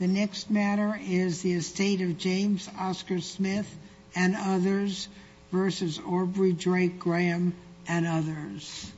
The next matter is the estate of James Oscar Smith and others v. Aubrey Drake Graham and others.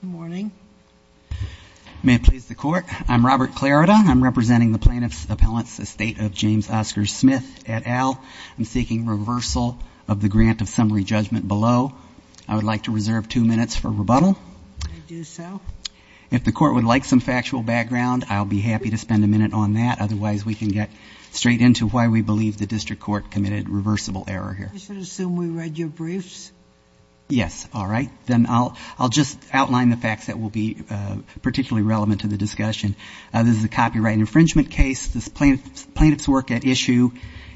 Good morning. May it please the court. I'm Robert Clarida. I'm representing the plaintiffs' appellants, the estate of James Oscar Smith et al. I'm seeking reversal of the grant of summary judgment below. I would like to reserve two minutes for rebuttal. I do so. If the court would like some factual background, I'll be happy to spend a minute on that. Otherwise, we can get straight into why we believe the district court committed reversible error here. You should assume we read your briefs. Yes. All right. Then I'll just outline the facts that will be particularly relevant to the discussion. This is a copyright infringement case. The plaintiff's work at issue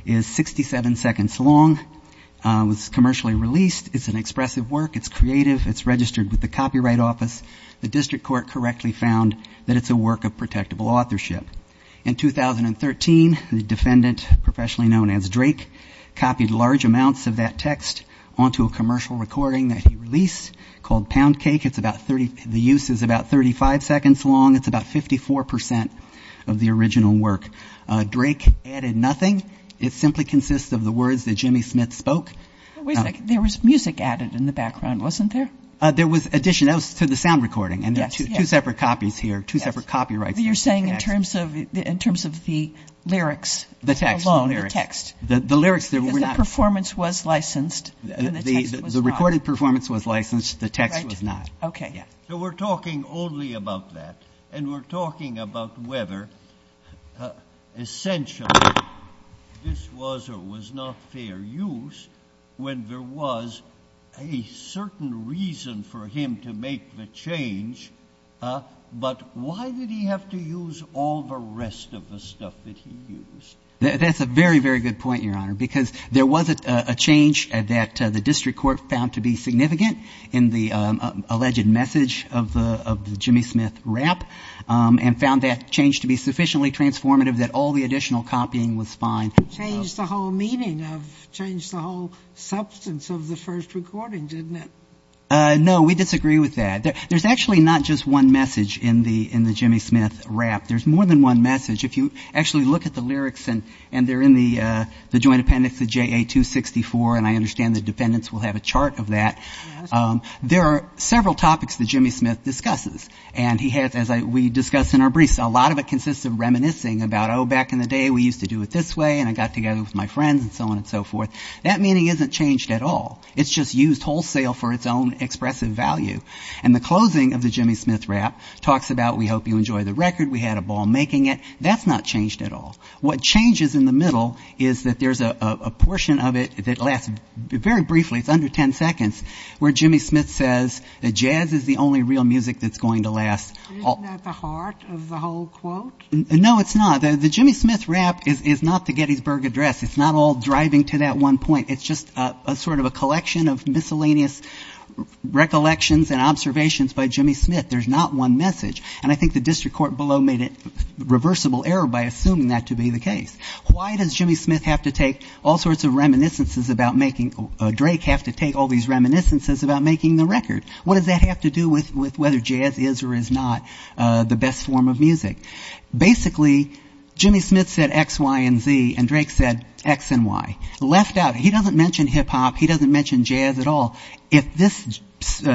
is 67 seconds long. It was commercially released. It's an expressive work. It's creative. It's registered with the Copyright Office. The district court correctly found that it's a work of protectable authorship. In 2013, the defendant, professionally known as Drake, copied large amounts of that text onto a commercial recording that he released called Pound Cake. The use is about 35 seconds long. It's about 54 percent of the original work. Drake added nothing. It simply consists of the words that Jimmy Smith spoke. There was music added in the background, wasn't there? There was addition. That was to the sound recording. And there are two separate copies here, two separate copyrights. You're saying in terms of the lyrics alone, the text. The lyrics. Because the performance was licensed and the text was not. The recorded performance was licensed. The text was not. So we're talking only about that. And we're talking about whether essentially this was or was not fair use when there was a certain reason for him to make the change. But why did he have to use all the rest of the stuff that he used? That's a very, very good point, Your Honor. Because there was a change that the district court found to be significant in the alleged message of the Jimmy Smith rap. And found that change to be sufficiently transformative that all the additional copying was fine. Changed the whole meaning of, changed the whole substance of the first recording, didn't it? No, we disagree with that. There's actually not just one message in the Jimmy Smith rap. There's more than one message. If you actually look at the lyrics and they're in the joint appendix of JA 264, and I understand the defendants will have a chart of that. There are several topics that Jimmy Smith discusses. And he has, as we discussed in our briefs, a lot of it consists of reminiscing about, oh, back in the day we used to do it this way. And I got together with my friends and so on and so forth. That meaning isn't changed at all. It's just used wholesale for its own expressive value. And the closing of the Jimmy Smith rap talks about we hope you enjoy the record, we had a ball making it. That's not changed at all. What changes in the middle is that there's a portion of it that lasts very briefly, it's under ten seconds, where Jimmy Smith says that jazz is the only real music that's going to last. Isn't that the heart of the whole quote? No, it's not. The Jimmy Smith rap is not the Gettysburg Address. It's not all driving to that one point. It's just a sort of a collection of miscellaneous recollections and observations by Jimmy Smith. There's not one message. And I think the district court below made a reversible error by assuming that to be the case. Why does Jimmy Smith have to take all sorts of reminiscences about making, Drake have to take all these reminiscences about making the record? What does that have to do with whether jazz is or is not the best form of music? Basically, Jimmy Smith said X, Y, and Z, and Drake said X and Y. Left out, he doesn't mention hip-hop, he doesn't mention jazz at all. If this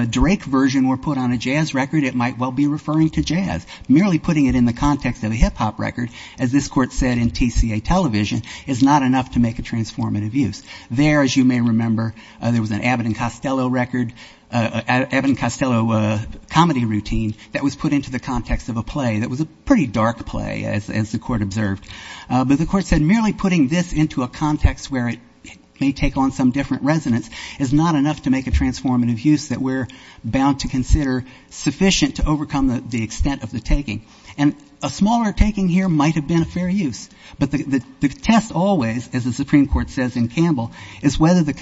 Drake version were put on a jazz record, it might well be referring to jazz. Merely putting it in the context of a hip-hop record, as this court said in TCA Television, is not enough to make a transformative use. There, as you may remember, there was an Abbott and Costello record, Abbott and Costello comedy routine that was put into the context of a play that was a pretty dark play, as the court observed. But the court said merely putting this into a context where it may take on some different resonance is not enough to make a transformative use that we're bound to consider sufficient to overcome the extent of the taking. And a smaller taking here might have been a fair use. But the test always, as the Supreme Court says in Campbell, is whether the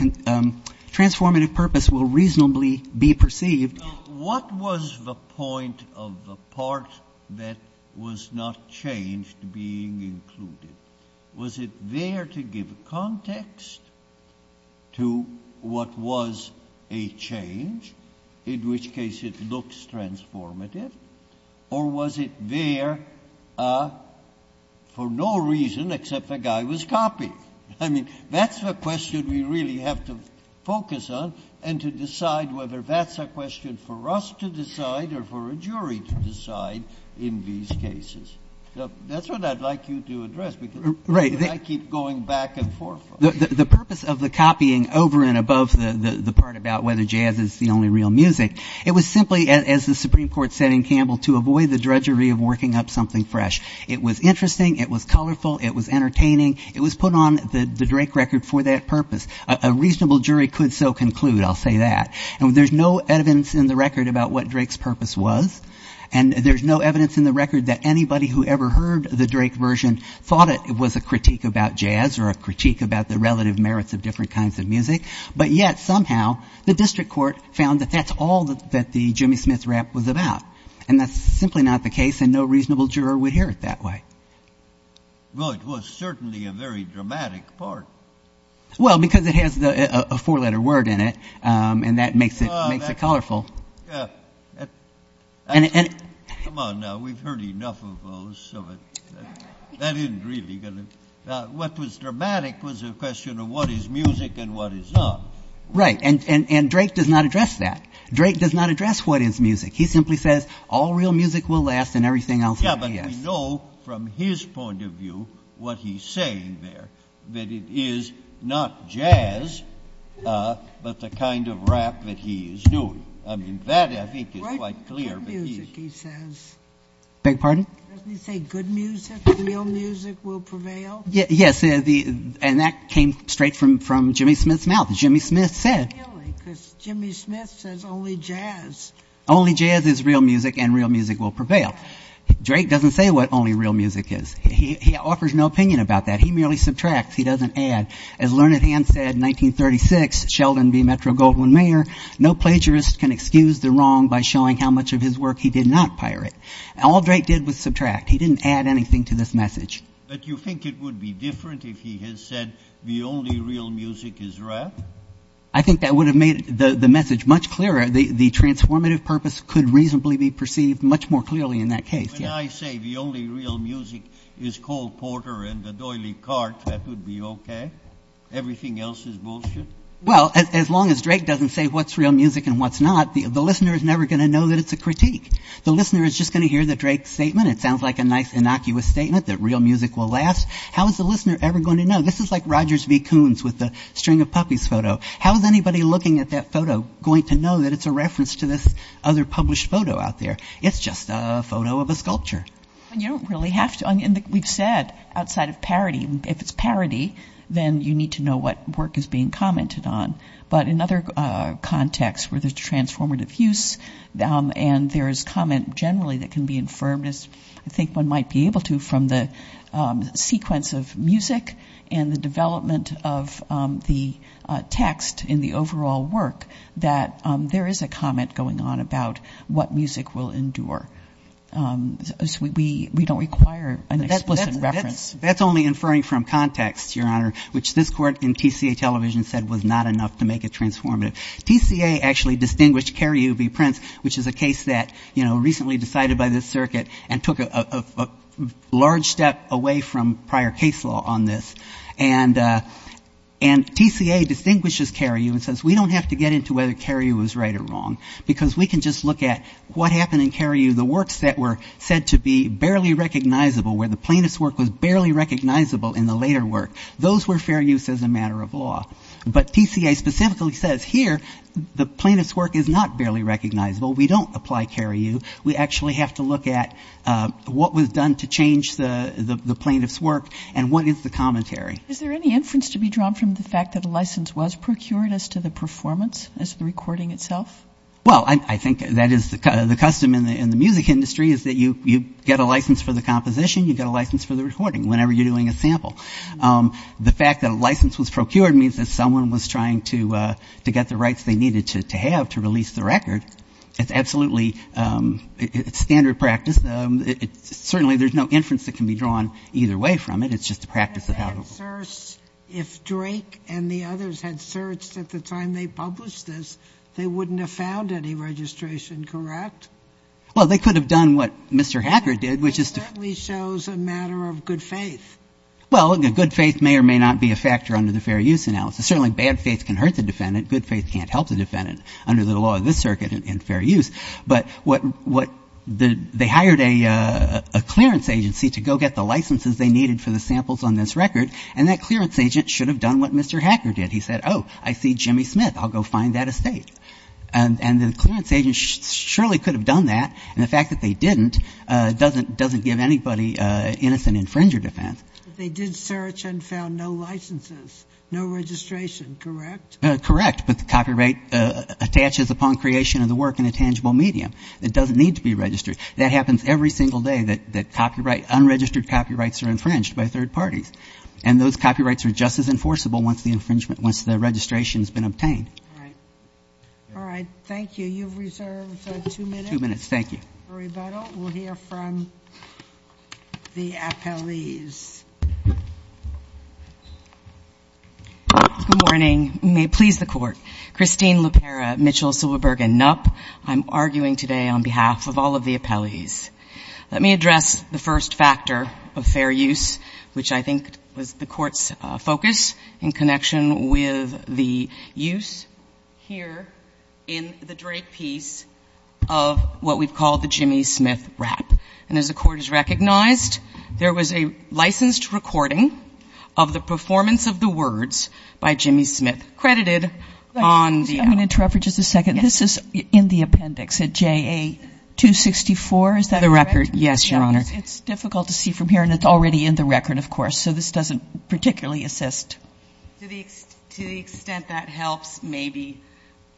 transformative purpose will reasonably be perceived. What was the point of the part that was not changed being included? Was it there to give context to what was a change, in which case it looks transformative? Or was it there for no reason except the guy was copying? I mean, that's the question we really have to focus on and to decide whether that's a question for us to decide or for a jury to decide in these cases. That's what I'd like you to address because I keep going back and forth. The purpose of the copying over and above the part about whether jazz is the only real music, it was simply, as the Supreme Court said in Campbell, to avoid the drudgery of working up something fresh. It was interesting. It was colorful. It was entertaining. It was put on the Drake record for that purpose. A reasonable jury could so conclude, I'll say that. And there's no evidence in the record about what Drake's purpose was. And there's no evidence in the record that anybody who ever heard the Drake version thought it was a critique about jazz or a critique about the relative merits of different kinds of music. But yet somehow the district court found that that's all that the Jimmy Smith rap was about. And that's simply not the case, and no reasonable juror would hear it that way. Well, it was certainly a very dramatic part. Well, because it has a four-letter word in it, and that makes it colorful. Come on now, we've heard enough of those. That isn't really going to... What was dramatic was a question of what is music and what is not. Right, and Drake does not address that. He simply says all real music will last and everything else will be as... Yeah, but we know from his point of view, what he's saying there, that it is not jazz, but the kind of rap that he is doing. I mean, that I think is quite clear. What music, he says? Beg your pardon? Doesn't he say good music, real music will prevail? Yes, and that came straight from Jimmy Smith's mouth. Jimmy Smith said... Really, because Jimmy Smith says only jazz. Only jazz is real music, and real music will prevail. Drake doesn't say what only real music is. He offers no opinion about that. He merely subtracts. He doesn't add. As Learned Hand said in 1936, Sheldon B. Metro-Goldwyn-Mayer, no plagiarist can excuse the wrong by showing how much of his work he did not pirate. All Drake did was subtract. He didn't add anything to this message. But you think it would be different if he had said the only real music is rap? I think that would have made the message much clearer. The transformative purpose could reasonably be perceived much more clearly in that case. When I say the only real music is Cole Porter and the Doily Cart, that would be okay? Everything else is bullshit? Well, as long as Drake doesn't say what's real music and what's not, the listener is never going to know that it's a critique. The listener is just going to hear the Drake statement. It sounds like a nice innocuous statement that real music will last. How is the listener ever going to know? This is like Rogers v. Coons with the String of Puppies photo. How is anybody looking at that photo going to know that it's a reference to this other published photo out there? It's just a photo of a sculpture. You don't really have to. We've said outside of parody, if it's parody, then you need to know what work is being commented on. But in other contexts where there's transformative use and there's comment generally that can be infirmed, I think one might be able to from the sequence of music and the development of the text in the overall work, that there is a comment going on about what music will endure. So we don't require an explicit reference. That's only inferring from context, Your Honor, which this Court in TCA television said was not enough to make it transformative. TCA actually distinguished Cariou v. Prince, which is a case that recently decided by this circuit and took a large step away from prior case law on this. And TCA distinguishes Cariou and says we don't have to get into whether Cariou is right or wrong, because we can just look at what happened in Cariou, the works that were said to be barely recognizable, where the plaintiff's work was barely recognizable in the later work. Those were fair use as a matter of law. But TCA specifically says here the plaintiff's work is not barely recognizable. We don't apply Cariou. We actually have to look at what was done to change the plaintiff's work and what is the commentary. Is there any inference to be drawn from the fact that a license was procured as to the performance as the recording itself? Well, I think that is the custom in the music industry is that you get a license for the composition, you get a license for the recording whenever you're doing a sample. The fact that a license was procured means that someone was trying to get the rights they needed to have to release the record. It's absolutely standard practice. Certainly there's no inference that can be drawn either way from it. It's just a practice of how it works. If Drake and the others had searched at the time they published this, they wouldn't have found any registration, correct? Well, they could have done what Mr. Hacker did, which is to ---- It certainly shows a matter of good faith. Well, good faith may or may not be a factor under the fair use analysis. Certainly bad faith can hurt the defendant. Good faith can't help the defendant under the law of this circuit in fair use. But they hired a clearance agency to go get the licenses they needed for the samples on this record, and that clearance agent should have done what Mr. Hacker did. He said, oh, I see Jimmy Smith. I'll go find that estate. And the clearance agent surely could have done that. And the fact that they didn't doesn't give anybody innocent infringer defense. They did search and found no licenses, no registration, correct? Correct. But the copyright attaches upon creation of the work in a tangible medium. It doesn't need to be registered. That happens every single day that copyright unregistered copyrights are infringed by third parties. And those copyrights are just as enforceable once the registration has been obtained. All right. All right. Thank you. You've reserved two minutes. Two minutes. Thank you. For rebuttal, we'll hear from the appellees. Good morning. May it please the Court. Christine Lupera, Mitchell, Silverberg, and Knopp. I'm arguing today on behalf of all of the appellees. Let me address the first factor of fair use, which I think was the Court's focus in connection with the use here in the Drake piece of what we've called the Jimmy Smith rap. And as the Court has recognized, there was a licensed recording of the performance of the words by Jimmy Smith credited on the app. I'm going to interrupt for just a second. Yes. This is in the appendix at JA-264. Is that correct? The record, yes, Your Honor. It's difficult to see from here, and it's already in the record, of course, so this doesn't particularly assist. To the extent that helps, maybe.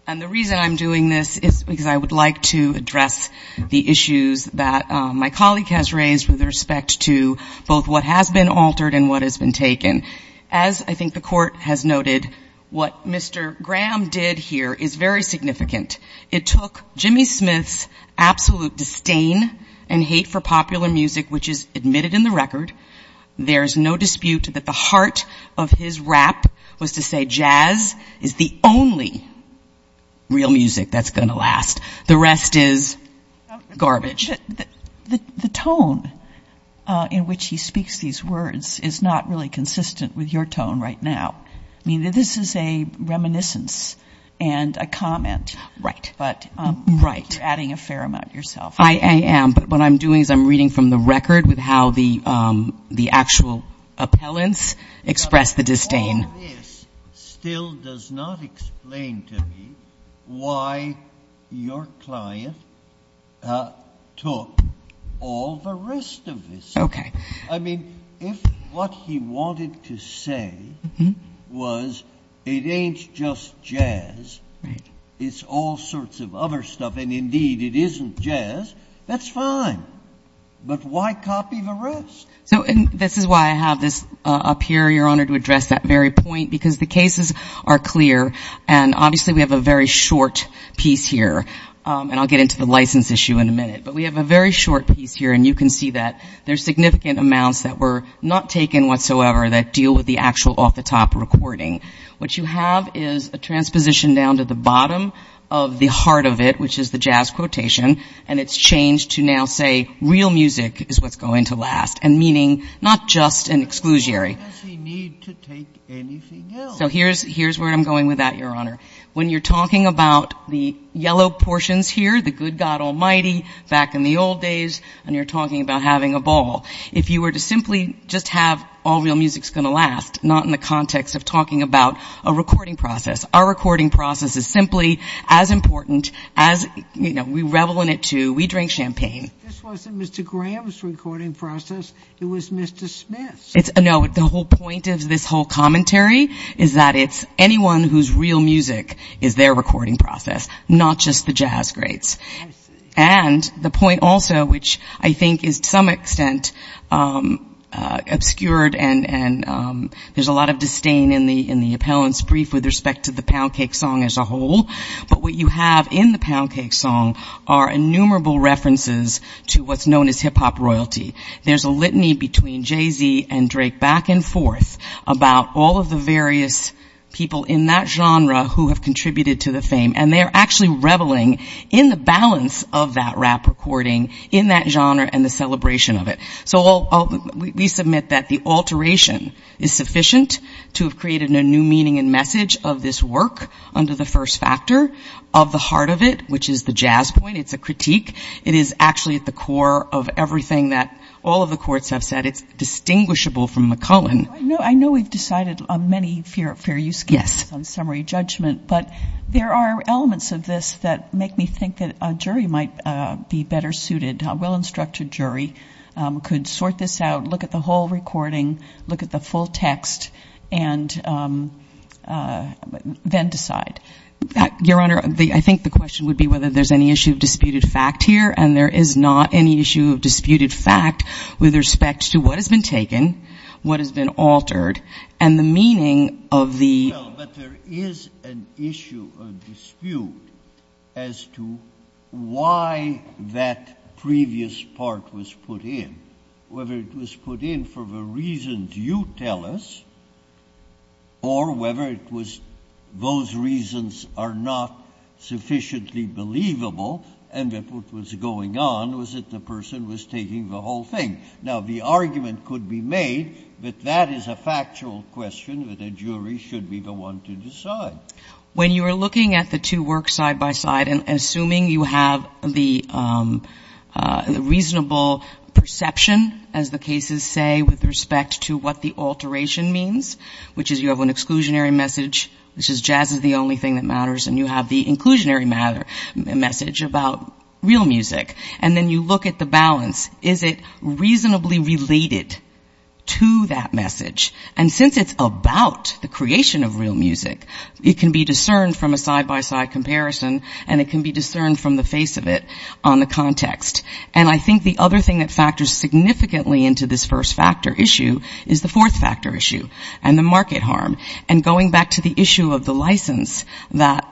And the reason I'm doing this is because I would like to address the issues that my colleague has raised with respect to both what has been altered and what has been taken. As I think the Court has noted, what Mr. Graham did here is very significant. It took Jimmy Smith's absolute disdain and hate for popular music, which is admitted in the record. There is no dispute that the heart of his rap was to say jazz is the only real music that's going to last. The rest is garbage. The tone in which he speaks these words is not really consistent with your tone right now. I mean, this is a reminiscence and a comment. Right. But you're adding a fair amount yourself. I am. But what I'm doing is I'm reading from the record with how the actual appellants expressed the disdain. All this still does not explain to me why your client took all the rest of this. Okay. I mean, if what he wanted to say was it ain't just jazz. Right. It's all sorts of other stuff, and indeed it isn't jazz. That's fine. But why copy the rest? So this is why I have this up here, Your Honor, to address that very point, because the cases are clear, and obviously we have a very short piece here, and I'll get into the license issue in a minute. But we have a very short piece here, and you can see that there's significant amounts that were not taken whatsoever that deal with the actual off-the-top recording. What you have is a transposition down to the bottom of the heart of it, which is the jazz quotation, and it's changed to now say real music is what's going to last, and meaning not just an exclusionary. Why does he need to take anything else? So here's where I'm going with that, Your Honor. When you're talking about the yellow portions here, the good God almighty, back in the old days, and you're talking about having a ball, if you were to simply just have all real music's going to last, not in the context of talking about a recording process. Our recording process is simply as important as, you know, we revel in it, too. We drink champagne. This wasn't Mr. Graham's recording process. It was Mr. Smith's. No, the whole point of this whole commentary is that it's anyone whose real music is their recording process, not just the jazz greats. I see. And the point also, which I think is to some extent obscured, and there's a lot of disdain in the appellant's brief with respect to the Poundcake song as a whole, but what you have in the Poundcake song are innumerable references to what's known as hip-hop royalty. There's a litany between Jay-Z and Drake back and forth about all of the various people in that genre who have contributed to the fame, and they're actually reveling in the balance of that rap recording in that genre and the celebration of it. So we submit that the alteration is sufficient to have created a new meaning and message of this work under the first factor of the heart of it, which is the jazz point. It's a critique. It is actually at the core of everything that all of the courts have said. It's distinguishable from McCullen. I know we've decided on many fair use cases on summary judgment, but there are elements of this that make me think that a jury might be better suited, a well-instructed jury could sort this out, look at the whole recording, look at the full text, and then decide. Your Honor, I think the question would be whether there's any issue of disputed fact here, and there is not any issue of disputed fact with respect to what has been taken, what has been altered, and the meaning of the ---- Well, but there is an issue, a dispute, as to why that previous part was put in, whether it was put in for the reasons you tell us or whether it was those reasons are not sufficiently believable and that what was going on was that the person was taking the whole thing. Now, the argument could be made that that is a factual question that a jury should be the one to decide. When you are looking at the two works side by side and assuming you have the reasonable perception, as the cases say, with respect to what the alteration means, which is you have an exclusionary message, which is jazz is the only thing that matters, and you have the inclusionary message about real music, and then you look at the balance. Is it reasonably related to that message? And since it's about the creation of real music, it can be discerned from a side-by-side comparison, and it can be discerned from the face of it on the context. And I think the other thing that factors significantly into this first factor issue is the fourth factor issue and the market harm, and going back to the issue of the license that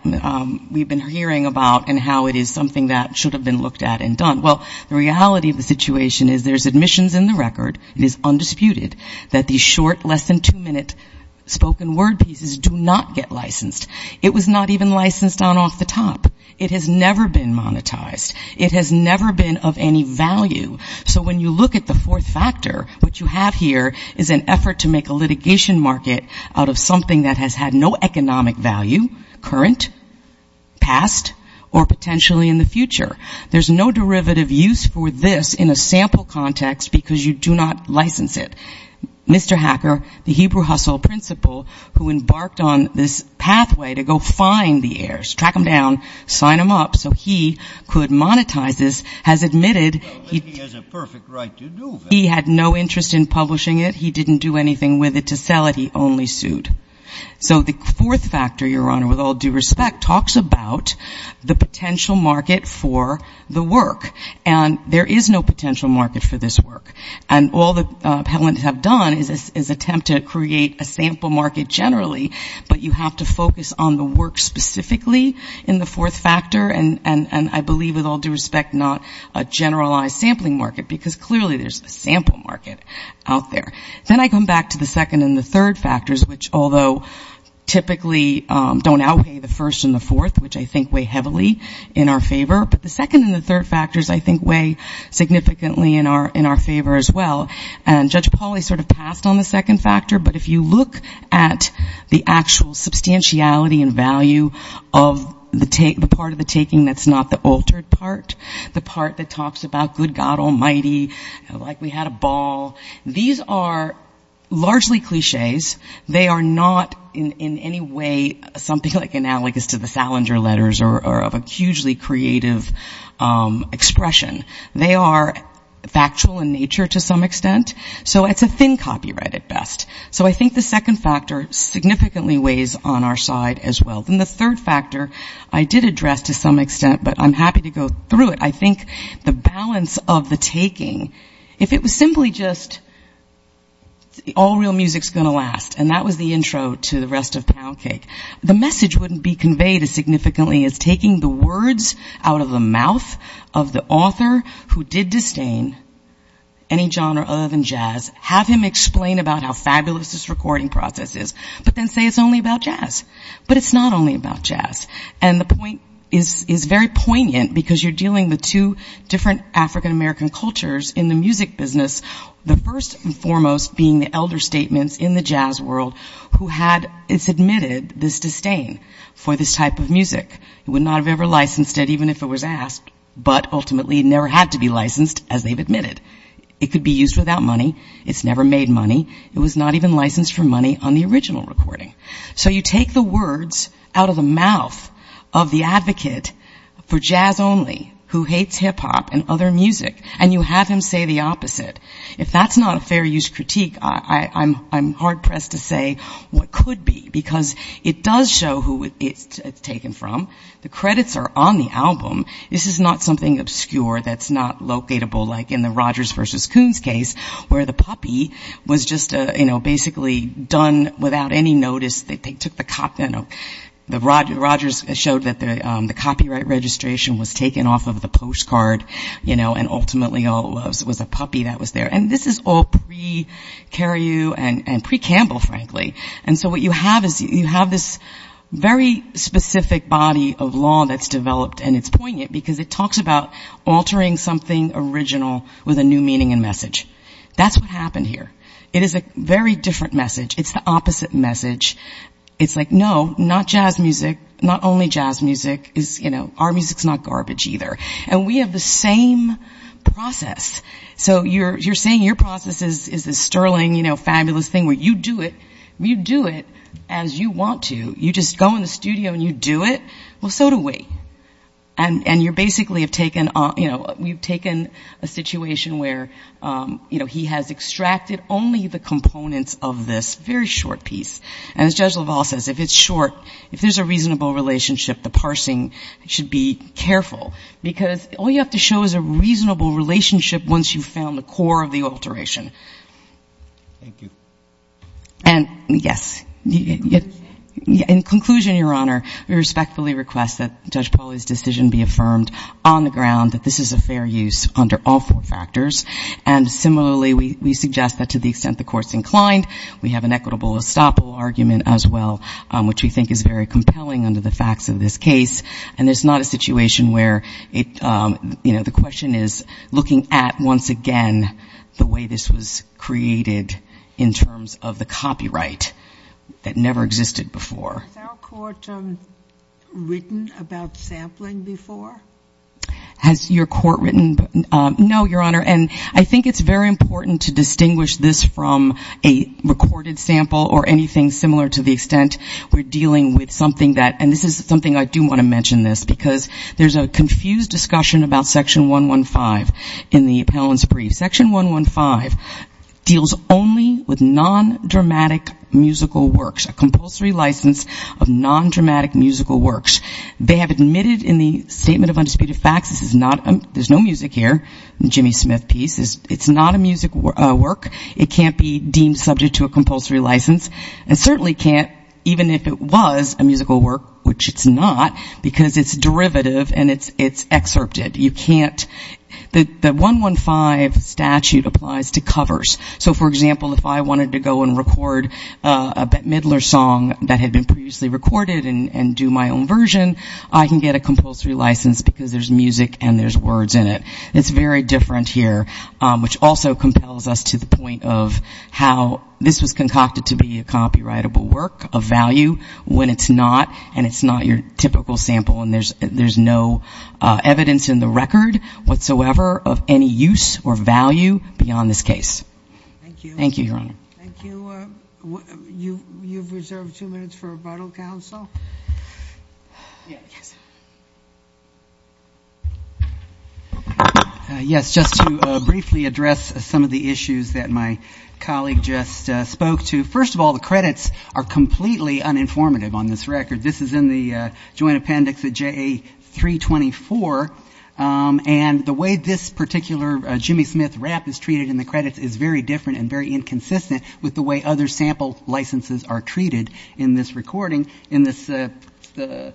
we've been hearing about and how it is something that should have been looked at and done. Well, the reality of the situation is there's admissions in the record. It is undisputed that these short, less than two-minute spoken word pieces do not get licensed. It was not even licensed on off the top. It has never been monetized. It has never been of any value. So when you look at the fourth factor, what you have here is an effort to make a litigation market out of something that has had no economic value, current, past, or potentially in the future. There's no derivative use for this in a sample context because you do not license it. Mr. Hacker, the Hebrew hustle principal who embarked on this pathway to go find the heirs, track them down, sign them up so he could monetize this, has admitted he had no interest in publishing it. He didn't do anything with it to sell it. He only sued. So the fourth factor, Your Honor, with all due respect, talks about the potential market for the work. And there is no potential market for this work. And all the appellants have done is attempt to create a sample market generally, but you have to focus on the work specifically in the fourth factor, and I believe with all due respect not a generalized sampling market, because clearly there's a sample market out there. Then I come back to the second and the third factors, which although typically don't outweigh the first and the fourth, which I think weigh heavily in our favor, but the second and the third factors I think weigh significantly in our favor as well. And Judge Pauly sort of passed on the second factor, but if you look at the actual substantiality and value of the part of the taking that's not the altered part, the part that talks about good God almighty, like we had a ball, these are largely cliches. They are not in any way something like analogous to the Salinger letters or of a hugely creative expression. They are factual in nature to some extent. So it's a thin copyright at best. So I think the second factor significantly weighs on our side as well. Then the third factor I did address to some extent, but I'm happy to go through it. I think the balance of the taking, if it was simply just all real music's going to last, and that was the intro to the rest of Pound Cake, the message wouldn't be conveyed as significantly as taking the words out of the mouth of the author who did disdain any genre other than jazz, have him explain about how fabulous this recording process is, but then say it's only about jazz. But it's not only about jazz. And the point is very poignant because you're dealing with two different African-American cultures in the music business, the first and foremost being the elder statements in the jazz world who had, it's admitted, this disdain for this type of music. It would not have ever licensed it even if it was asked, but ultimately it never had to be licensed as they've admitted. It could be used without money. It's never made money. It was not even licensed for money on the original recording. So you take the words out of the mouth of the advocate for jazz only, who hates hip-hop and other music, and you have him say the opposite. If that's not a fair use critique, I'm hard-pressed to say what could be, because it does show who it's taken from. The credits are on the album. This is not something obscure that's not locatable like in the Rogers versus Coons case where the puppy was just basically done without any notice. They took the copy. Rogers showed that the copyright registration was taken off of the postcard, and ultimately it was a puppy that was there. And this is all pre-Carrieu and pre-Campbell, frankly. And so what you have is you have this very specific body of law that's developed, and it's poignant because it talks about altering something original with a new meaning and message. That's what happened here. It is a very different message. It's the opposite message. It's like, no, not jazz music, not only jazz music. Our music's not garbage either. And we have the same process. So you're saying your process is this sterling, fabulous thing where you do it. You do it as you want to. You just go in the studio and you do it. Well, so do we. And you basically have taken on, you know, we've taken a situation where, you know, he has extracted only the components of this very short piece. And as Judge LaValle says, if it's short, if there's a reasonable relationship, the parsing should be careful, because all you have to show is a reasonable relationship once you've found the core of the alteration. Thank you. And, yes, in conclusion, Your Honor, we respectfully request that Judge Pauly's decision be affirmed on the ground that this is a fair use under all four factors. And similarly, we suggest that to the extent the Court's inclined, we have an equitable estoppel argument as well, which we think is very compelling under the facts of this case. And there's not a situation where, you know, the question is looking at, once again, the way this was created in terms of the copyright that never existed before. Has our Court written about sampling before? Has your Court written? No, Your Honor. And I think it's very important to distinguish this from a recorded sample or anything similar to the extent we're dealing with something that, and this is something I do want to mention this, because there's a confused discussion about Section 115 in the appellant's brief. Section 115 deals only with non-dramatic musical works, a compulsory license of non-dramatic musical works. They have admitted in the Statement of Undisputed Facts, this is not, there's no music here, Jimmy Smith piece. It's not a music work. It can't be deemed subject to a compulsory license, and certainly can't, even if it was a musical work, which it's not, because it's derivative and it's excerpted. You can't, the 115 statute applies to covers. So, for example, if I wanted to go and record a Bette Midler song that had been previously recorded and do my own version, I can get a compulsory license because there's music and there's words in it. It's very different here, which also compels us to the point of how this was concocted to be a copyrightable work of value when it's not, and it's not your typical sample, and there's no evidence in the record whatsoever of any use or value beyond this case. Thank you, Your Honor. Thank you. You've reserved two minutes for rebuttal, counsel. Yes, just to briefly address some of the issues that my colleague just spoke to. First of all, the credits are completely uninformative on this record. This is in the joint appendix of JA-324, and the way this particular Jimmy Smith rap is treated in the credits is very different and very inconsistent with the way other sample licenses are treated in this recording, in the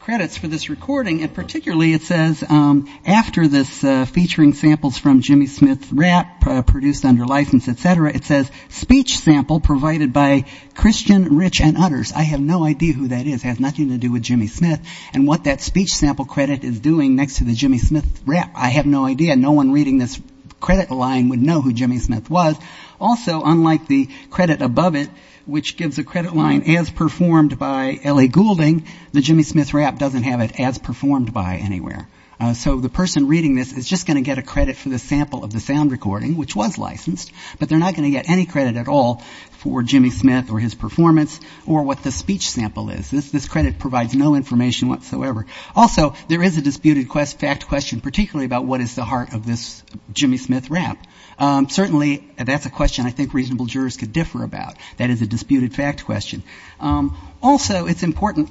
credits for this recording. And particularly it says after this featuring samples from Jimmy Smith rap produced under license, et cetera, it says speech sample provided by Christian, Rich, and others. I have no idea who that is. It has nothing to do with Jimmy Smith and what that speech sample credit is doing next to the Jimmy Smith rap. I have no idea. No one reading this credit line would know who Jimmy Smith was. Also, unlike the credit above it, which gives a credit line as performed by L.A. Goulding, the Jimmy Smith rap doesn't have it as performed by anywhere. So the person reading this is just going to get a credit for the sample of the sound recording, which was licensed, but they're not going to get any credit at all for Jimmy Smith or his performance or what the speech sample is. This credit provides no information whatsoever. Also, there is a disputed fact question, particularly about what is the heart of this Jimmy Smith rap. Certainly that's a question I think reasonable jurors could differ about. That is a disputed fact question. Also, it's important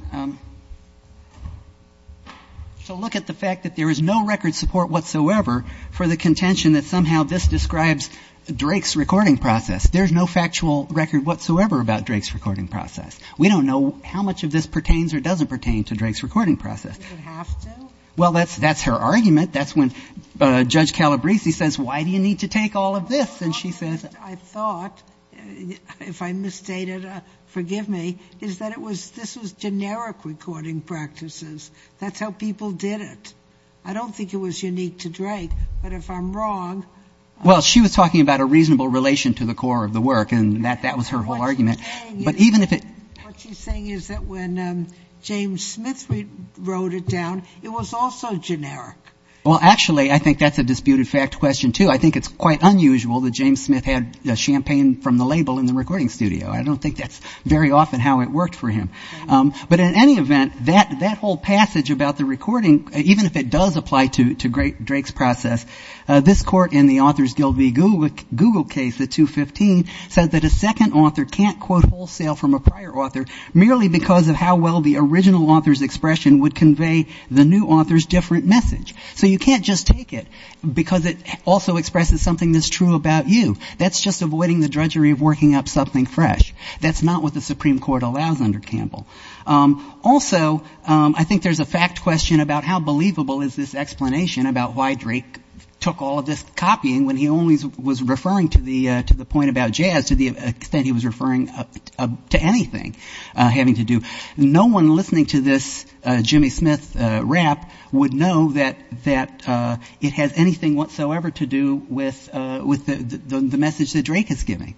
to look at the fact that there is no record support whatsoever for the contention that somehow this describes Drake's recording process. There's no factual record whatsoever about Drake's recording process. We don't know how much of this pertains or doesn't pertain to Drake's recording process. You would have to? Well, that's her argument. That's when Judge Calabresi says, why do you need to take all of this? And she says, I thought, if I misstated, forgive me, is that this was generic recording practices. That's how people did it. I don't think it was unique to Drake, but if I'm wrong. Well, she was talking about a reasonable relation to the core of the work, and that was her whole argument. What she's saying is that when James Smith wrote it down, it was also generic. Well, actually, I think that's a disputed fact question, too. I think it's quite unusual that James Smith had champagne from the label in the recording studio. I don't think that's very often how it worked for him. But in any event, that whole passage about the recording, even if it does apply to Drake's process, this court in the Authors Guild v. Google case, the 215, says that a second author can't quote wholesale from a prior author merely because of how well the original author's expression would convey the new author's different message. So you can't just take it because it also expresses something that's true about you. That's just avoiding the drudgery of working up something fresh. That's not what the Supreme Court allows under Campbell. Also, I think there's a fact question about how believable is this explanation about why Drake took all of this copying when he only was referring to the point about jazz to the extent he was referring to anything having to do. No one listening to this Jimmy Smith rap would know that it has anything whatsoever to do with the message that Drake is giving.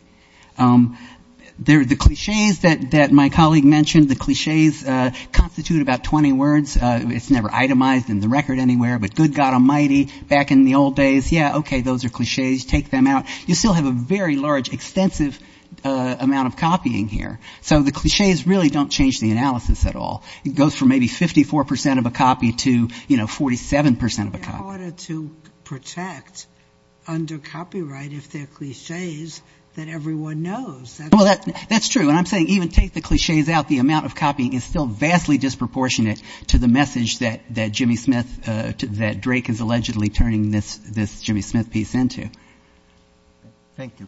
The cliches that my colleague mentioned, the cliches constitute about 20 words. It's never itemized in the record anywhere. But good God almighty, back in the old days, yeah, okay, those are cliches. Take them out. You still have a very large, extensive amount of copying here. So the cliches really don't change the analysis at all. It goes from maybe 54 percent of a copy to, you know, 47 percent of a copy. It's harder to protect under copyright if they're cliches that everyone knows. Well, that's true. And I'm saying even take the cliches out. The amount of copying is still vastly disproportionate to the message that Jimmy Smith, that Drake is allegedly turning this Jimmy Smith piece into. Thank you.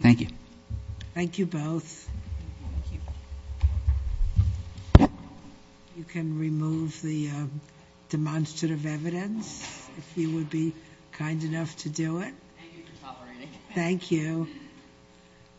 Thank you. Thank you both. Thank you. You can remove the demonstrative evidence if you would be kind enough to do it. Thank you for tolerating. Thank you.